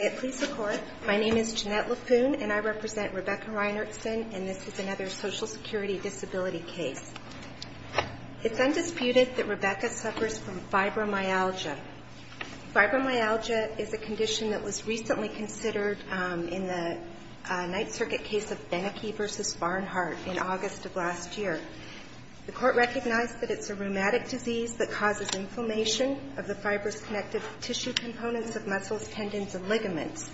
I represent Rebecca Reinertson and this is another social security disability case. It's undisputed that Rebecca suffers from fibromyalgia. Fibromyalgia is a condition that was recently considered in the Ninth Circuit case of Beneke v. Barnhart in August of last year. The Court recognized that it's a rheumatic disease that causes inflammation of the fibrous connective tissue components of muscles, tendons, and ligaments.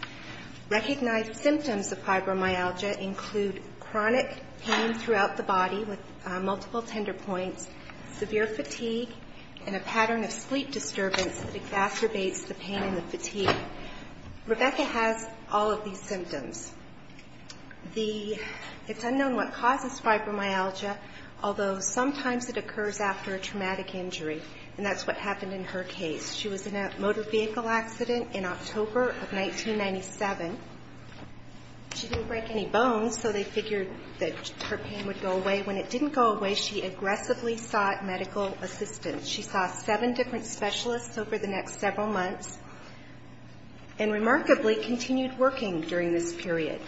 Recognized symptoms of fibromyalgia include chronic pain throughout the body with multiple tender points, severe fatigue, and a pattern of sleep disturbance that exacerbates the pain and the fatigue. Rebecca has all of these symptoms. It's unknown what causes fibromyalgia, although sometimes it occurs after a traumatic injury, and that's what happened in her case. She was in a motor vehicle accident in October of 1997. She didn't break any bones, so they figured that her pain would go away. When it didn't go away, she aggressively sought medical assistance. She saw seven different specialists over the next several months and remarkably continued working during this period.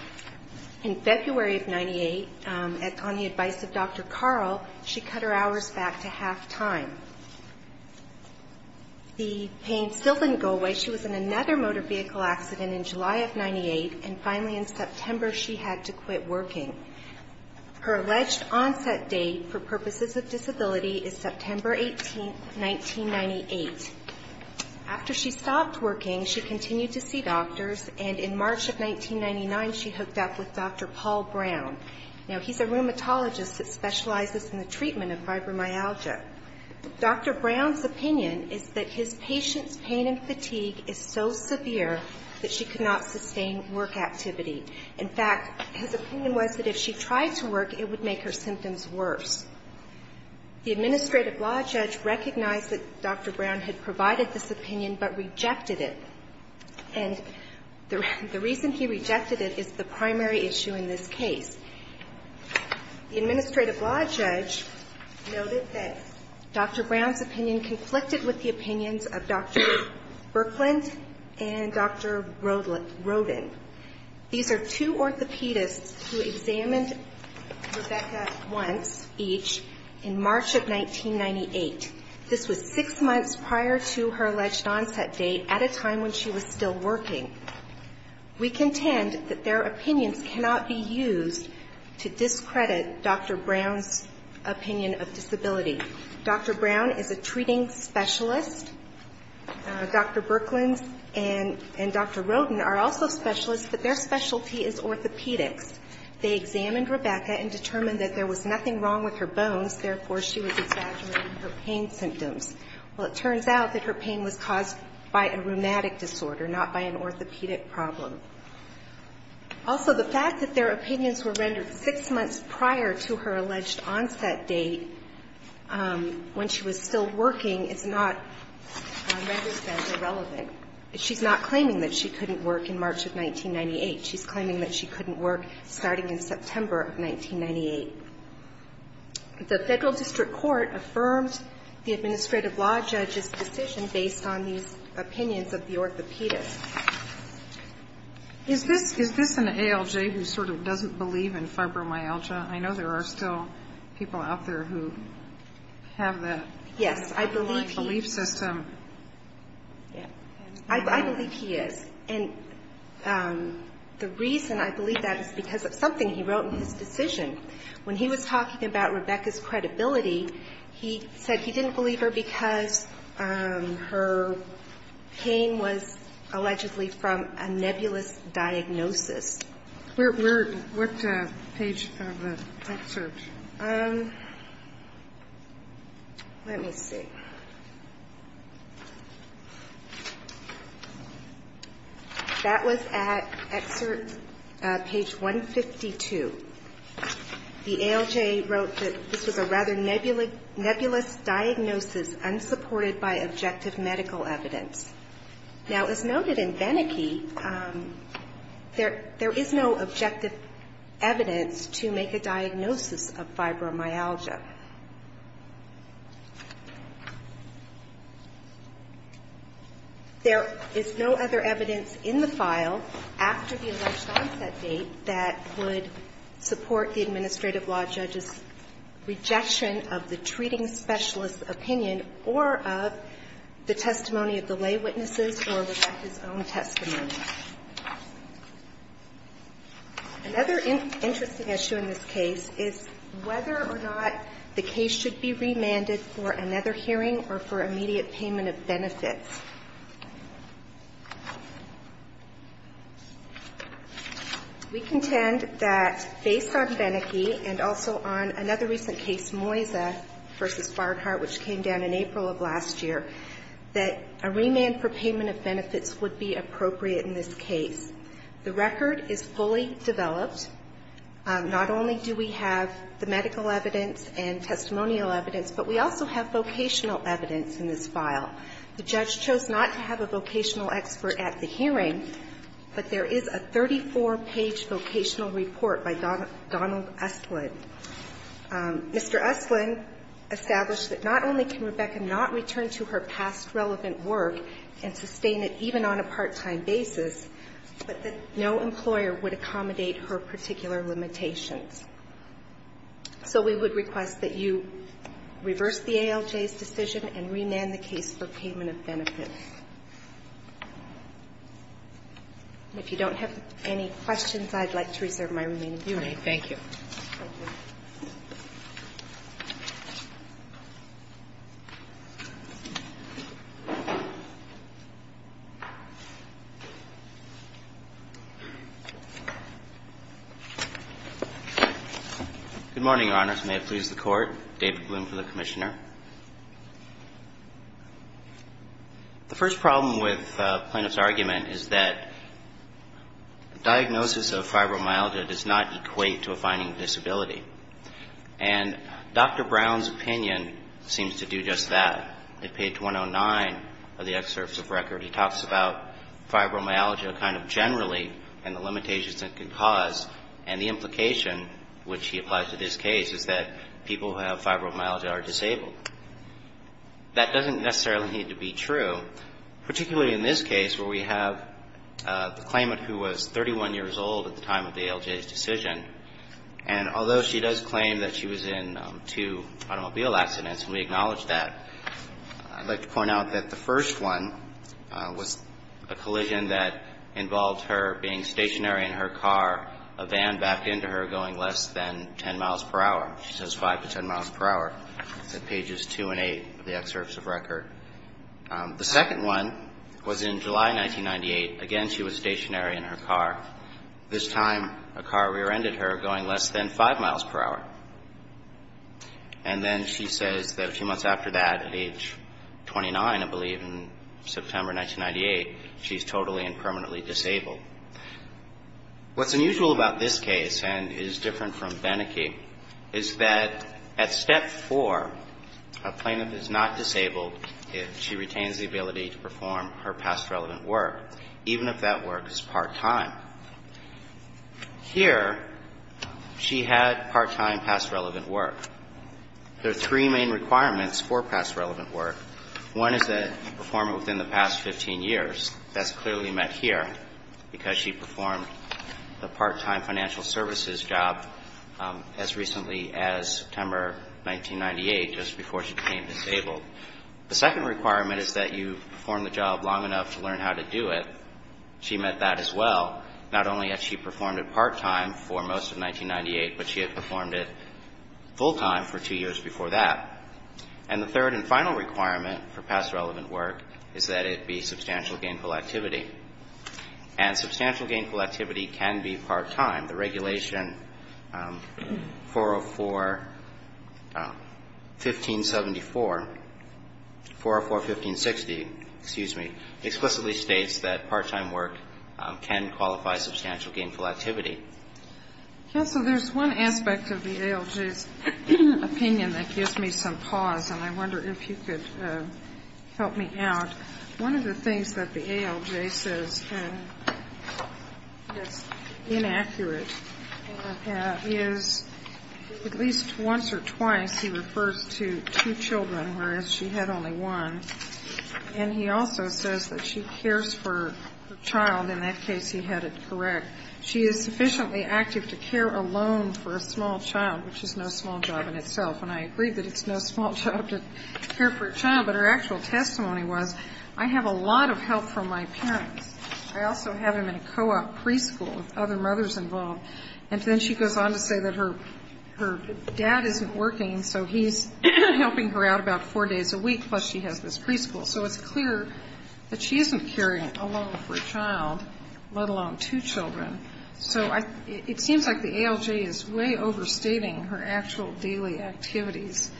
In February of 98, on the advice of Dr. Carl, she cut her hours back to half time. The pain still didn't go away. She was in another motor vehicle accident in July of 98, and finally in September she had to quit working. Her alleged onset date for purposes of disability is September 18, 1998. After she stopped working, she continued to see doctors, and in March of 1999 she hooked up with Dr. Paul Brown. Now, he's a rheumatologist that specializes in the treatment of fibromyalgia. Dr. Brown's opinion is that his patient's pain and fatigue is so severe that she could not sustain work activity. In fact, his opinion was that if she tried to work, it would make her symptoms worse. The administrative law judge recognized that Dr. Brown had provided this opinion, but rejected it. And the reason he rejected it is the primary issue in this case. The administrative law judge noted that Dr. Brown's opinion conflicted with the opinions of Dr. Birkland and Dr. Roden. These are two orthopedists who examined Rebecca once each in March of 1998. This was six months prior to her alleged onset date, at a time when she was still working. We contend that their opinions cannot be used to discredit Dr. Brown's opinion of disability. Dr. Brown is a treating specialist. Dr. Birkland and Dr. Roden are also specialists. But their specialty is orthopedics. They examined Rebecca and determined that there was nothing wrong with her bones. Therefore, she was exaggerating her pain symptoms. Well, it turns out that her pain was caused by a rheumatic disorder, not by an orthopedic problem. Also, the fact that their opinions were rendered six months prior to her alleged onset date, when she was still working, is not, I understand, irrelevant. She's not claiming that she couldn't work in March of 1998. She's claiming that she couldn't work starting in September of 1998. The Federal District Court affirmed the administrative law judge's decision based on these opinions of the orthopedist. Is this an ALJ who sort of doesn't believe in fibromyalgia? I know there are still people out there who have the belief system. Yes, I believe he does. I believe he is. And the reason I believe that is because of something he wrote in his decision. When he was talking about Rebecca's credibility, he said he didn't believe her because her pain was allegedly from a nebulous diagnosis. We're at what page of the search? Let me see. That was at excerpt page 152. The ALJ wrote that this was a rather nebulous diagnosis, unsupported by objective medical evidence. Now, as noted in Beneke, there is no objective evidence to make a diagnosis of fibromyalgia. There is no other evidence in the file after the election onset date that would support the administrative law judge's rejection of the treating specialist's opinion or of the testimony of the lay witnesses or Rebecca's own testimony. Another interesting issue in this case is whether or not the case should be remanded for another hearing or for immediate payment of benefits. We contend that, based on Beneke and also on another recent case, Moyza v. Bardhart, which came down in April of last year, that a remand for payment of benefits would be appropriate in this case. The record is fully developed. Not only do we have the medical evidence and testimonial evidence, but we also have vocational evidence in this file. The judge chose not to have a vocational expert at the hearing, but there is a 34-page vocational report by Donald Usland. Mr. Usland established that not only can Rebecca not return to her past relevant work and sustain it even on a part-time basis, but that no employer would accommodate her particular limitations. So we would request that you reverse the ALJ's decision and remand the case for payment of benefits. And if you don't have any questions, I'd like to reserve my remaining time. Good morning, Your Honors. May it please the Court. David Bloom for the Commissioner. The first problem with plaintiff's argument is that diagnosis of fibromyalgia does not equate to a finding of disability. And Dr. Brown's opinion seems to do just that. In page 109 of the excerpts of record, he talks about fibromyalgia kind of generally and the limitations it can cause. And the implication, which he applies to this case, is that people who have fibromyalgia are disabled. That doesn't necessarily need to be true, particularly in this case where we have the claimant who was 31 years old at the time of the ALJ's decision. And although she does claim that she was in two automobile accidents, and we acknowledge that, I'd like to point out that the first one was a collision that involved her being stationary in her car, a van backed into her going less than 10 miles per hour. She says 5 to 10 miles per hour. That's at pages 2 and 8 of the excerpts of record. The second one was in July 1998. Again, she was stationary in her car. This time, a car rear-ended her going less than 5 miles per hour. And then she says that a few months after that, at age 29, I believe, in September 1998, she's totally and permanently disabled. What's unusual about this case, and is different from Beneke, is that at step 4, a claimant is not disabled if she retains the ability to drive. Here, she had part-time past relevant work. There are three main requirements for past relevant work. One is that you perform it within the past 15 years. That's clearly met here, because she performed the part-time financial services job as recently as September 1998, just before she became disabled. The second requirement is that you perform the job long enough to learn how to do it. She met that as well, not only had she performed it part-time for most of 1998, but she had performed it full-time for two years before that. And the third and final requirement for past relevant work is that it be substantial gainful activity. And substantial gainful activity can be part-time. The Regulation 404-1574, 404-1560, excuse me, 404-1570, says that you can perform substantial gainful activity. Yes. So there's one aspect of the ALJ's opinion that gives me some pause, and I wonder if you could help me out. One of the things that the ALJ says that's inaccurate is at least once or twice he refers to two children, whereas she had only one. And he also says that she cares for her child. In that case, he had it correct. She is sufficiently active to care alone for a small child, which is no small job in itself. And I agree that it's no small job to care for a child, but her actual testimony was, I have a lot of help from my parents. I also have him in a co-op preschool with other mothers involved. And then she goes on to say that her dad isn't working, so he's helping her out about four days a week, plus she has this preschool. So it's clear that she isn't caring alone for a child, let alone two children. So it seems like the ALJ is way overstating her actual daily activities.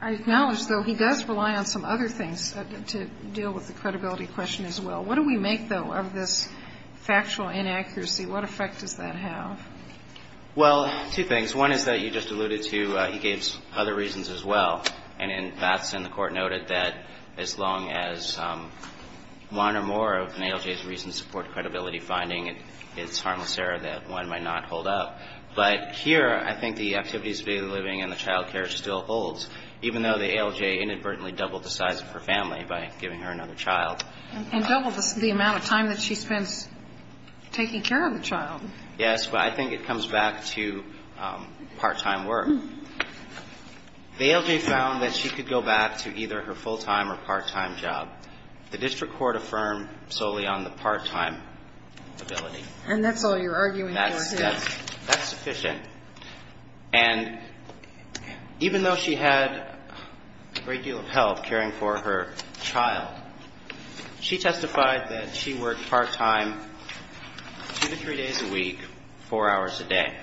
I acknowledge, though, he does rely on some other things to deal with the credibility question as well. What do we make, though, of this factual inaccuracy? What effect does that have? Well, two things. One is that you just alluded to, he gave other reasons as well. And that's in the court noted that as long as one or more of an ALJ's reasons support credibility finding, it's harmless error that one might not hold up. But here, I think the activities of daily living and the child care still holds, even though the ALJ inadvertently doubled the size of her family by giving her another child. And doubled the amount of time that she spends taking care of the child. Yes, but I think it comes back to part-time work. The ALJ found that she could go back to either her full-time or part-time job. The district court affirmed solely on the part-time ability. And that's all you're arguing for here. That's sufficient. And even though she had a great deal of help caring for her child, she testified that she worked part-time two to three days a week, four hours a day.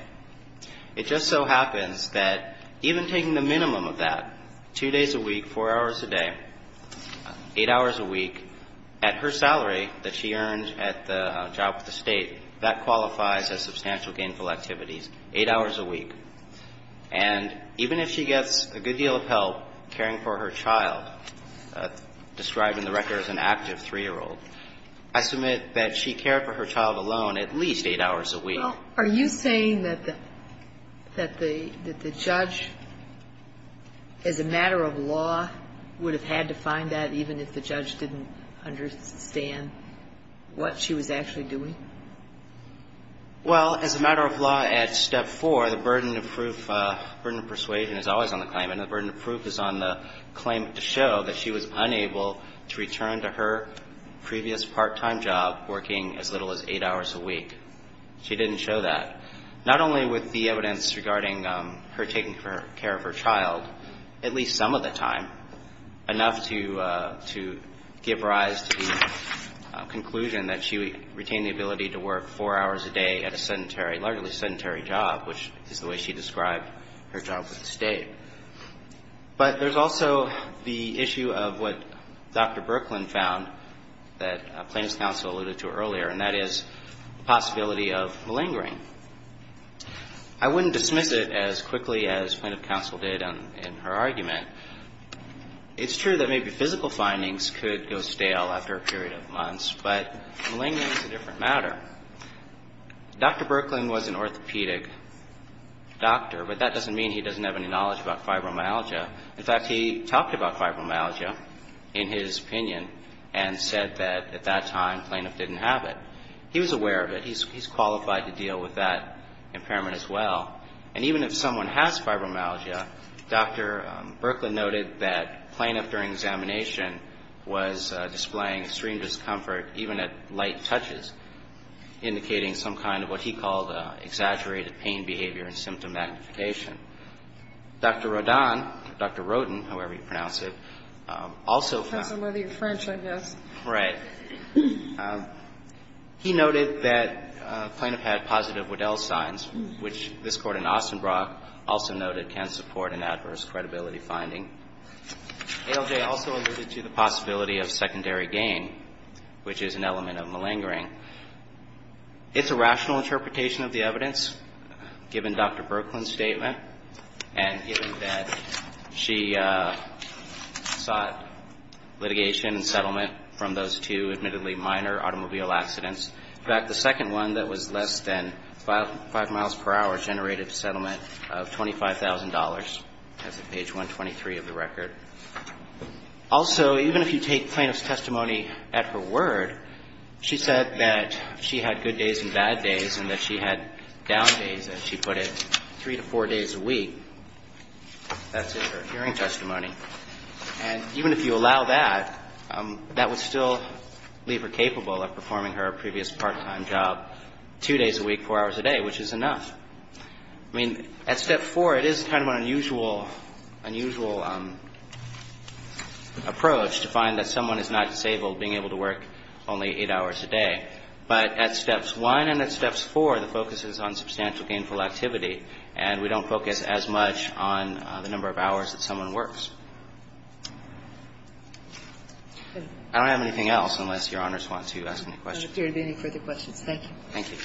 It just so happens that even taking the minimum of that, two days a week, four hours a day, eight hours a week, at her salary that she earned at the job with the State, that qualifies as substantial gainful activities, eight hours a week. And even if she gets a good deal of help caring for her child, describing the record as an active 3-year-old, I submit that she cared for her child alone at least eight hours a week. Are you saying that the judge, as a matter of law, would have had to find that even if the judge didn't understand what she was actually doing? Well, as a matter of law, at step four, the burden of proof, burden of persuasion is always on the claimant. And the burden of proof is on the claimant to show that she was unable to return to her previous part-time job working as little as eight hours a week. She didn't show that. Not only with the evidence regarding her taking care of her child, at least some of the time, enough to give rise to the conclusion that she retained the ability to work four hours a day at a sedentary, largely sedentary job, which is the way she described her job with the State. But there's also the issue of what Dr. Brooklyn found that plaintiff's counsel alluded to earlier, and that is the possibility of malingering. I wouldn't dismiss it as quickly as plaintiff's counsel did in her argument. It's true that maybe physical findings could go stale after a period of months, but malingering is a different matter. Dr. Brooklyn was an orthopedic doctor, but that doesn't mean he doesn't have any knowledge about fibromyalgia. In fact, he talked about fibromyalgia in his opinion and said that at that time plaintiff didn't have it. He was aware of it. He's qualified to deal with that impairment as well. And even if someone has fibromyalgia, Dr. Brooklyn noted that plaintiff during examination was displaying extreme discomfort even at light touches, indicating some kind of what he called exaggerated pain behavior and symptom magnification. Dr. Rodin, Dr. Rodin, however you pronounce it, also found that he noted that plaintiff had positive Waddell signs, which this Court in Ostenbrock also noted can support an adverse credibility finding. ALJ also alluded to the possibility of secondary gain, which is an element of malingering. It's a rational interpretation of the evidence given Dr. Brooklyn's statement and given that she sought litigation and settlement from those two admittedly minor automobile accidents. In fact, the second one that was less than five miles per hour generated a settlement of $25,000 as of page 123 of the record. Also, even if you take plaintiff's testimony at her word, she said that she had good days and bad days and that she had down days, as she put it, three to four days a week. That's in her hearing testimony. And even if you allow that, that would still leave her capable of performing her previous part-time job two days a week, four hours a day, which is enough. I mean, at Step 4, it is kind of an unusual, unusual approach to find that someone is not disabled being able to work only eight hours a day. But at Steps 1 and at Steps 4, the focus is on substantial gainful activity, and we don't focus as much on the number of hours that someone works. I don't have anything else, unless Your Honors want to ask any questions. I don't have any further questions. Thank you. Thank you.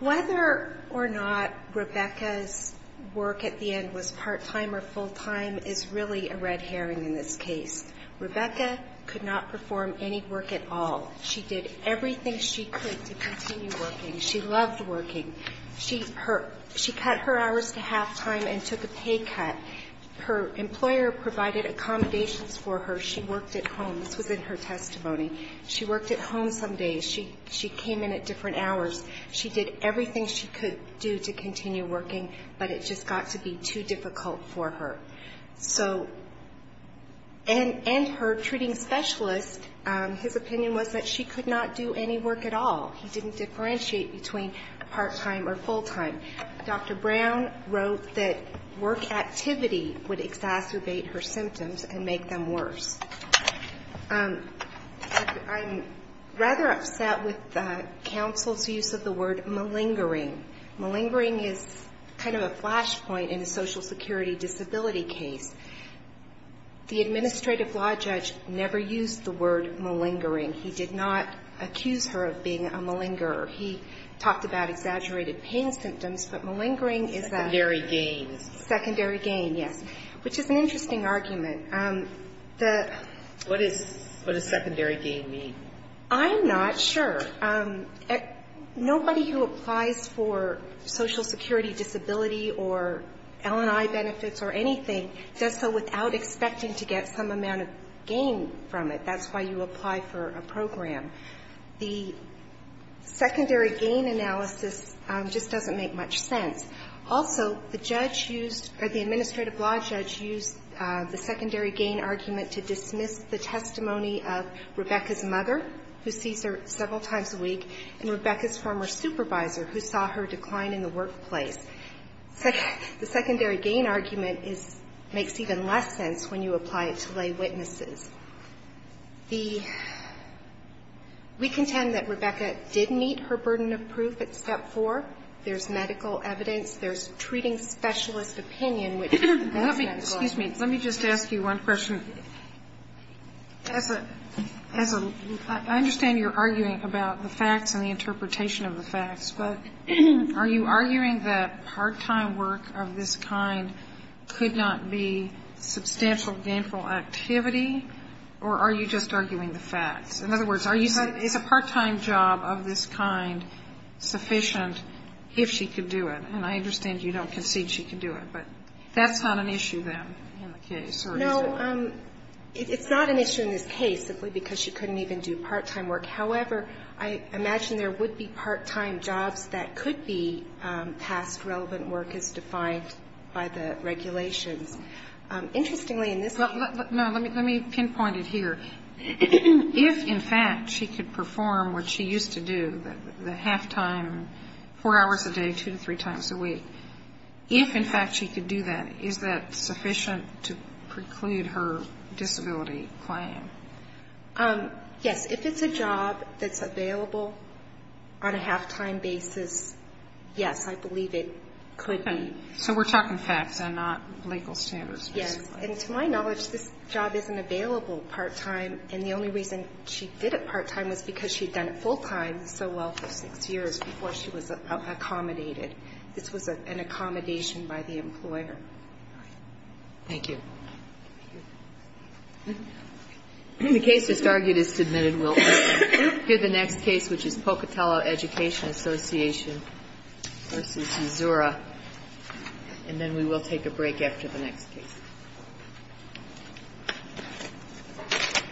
Whether or not Rebecca's work at the end was part-time or full-time is really a red herring in this case. Rebecca could not perform any work at all. She did everything she could to continue working. She loved working. She cut her hours to half-time and took a pay cut. Her employer provided accommodations for her. She worked at home. This was in her testimony. She worked at home some days. She came in at different hours. She did everything she could do to continue working, but it just got to be too difficult for her. So, and her treating specialist, his opinion was that she could not do any work at all. He didn't differentiate between part-time or full-time. Dr. Brown wrote that work activity would exacerbate her symptoms and make them worse. I'm rather upset with the council's use of the word malingering. Malingering is kind of a flashpoint in a social security disability case. The administrative law judge never used the word malingering. He did not accuse her of being a malinger. He talked about exaggerated pain symptoms, but malingering is a --" Secondary gain. Secondary gain, yes, which is an interesting argument. What does secondary gain mean? I'm not sure. Nobody who applies for social security disability or L&I benefits or anything does so without expecting to get some amount of gain from it. That's why you apply for a program. The secondary gain analysis just doesn't make much sense. Also, the judge used, or the administrative law judge used the secondary gain argument to dismiss the testimony of Rebecca's mother, who sees her several times a week, and Rebecca's former supervisor, who saw her decline in the workplace. The secondary gain argument makes even less sense when you apply it to lay witnesses. The --" We contend that Rebecca did meet her burden of proof at Step 4. There's medical evidence. There's treating specialist opinion, which is the best medical evidence. Excuse me. Let me just ask you one question. As a --" I understand you're arguing about the facts and the interpretation of the facts, but are you arguing that part-time work of this kind could not be substantial gainful activity, or are you just arguing the facts? In other words, are you saying it's a part-time job of this kind sufficient if she could do it? And I understand you don't concede she could do it, but that's not an issue then in the case, or is it? No. It's not an issue in this case simply because she couldn't even do part-time work. However, I imagine there would be part-time jobs that could be past relevant work as defined by the regulations. Interestingly, in this case --" No. Let me pinpoint it here. If, in fact, she could perform what she used to do, the half-time, four hours a day, two to three times a week, if, in fact, she could do that, is that sufficient to preclude her disability claim? Yes. If it's a job that's available on a half-time basis, yes, I believe it could be. So we're talking facts and not legal standards, basically. Yes, and to my knowledge, this job isn't available part-time, and the only reason she did it part-time was because she'd done it full-time so well for six years before she was accommodated. This was an accommodation by the employer. Thank you. The case just argued is submitted. We'll hear the next case, which is Pocatello Education Association v. Azura, and then we will take a break after the next case.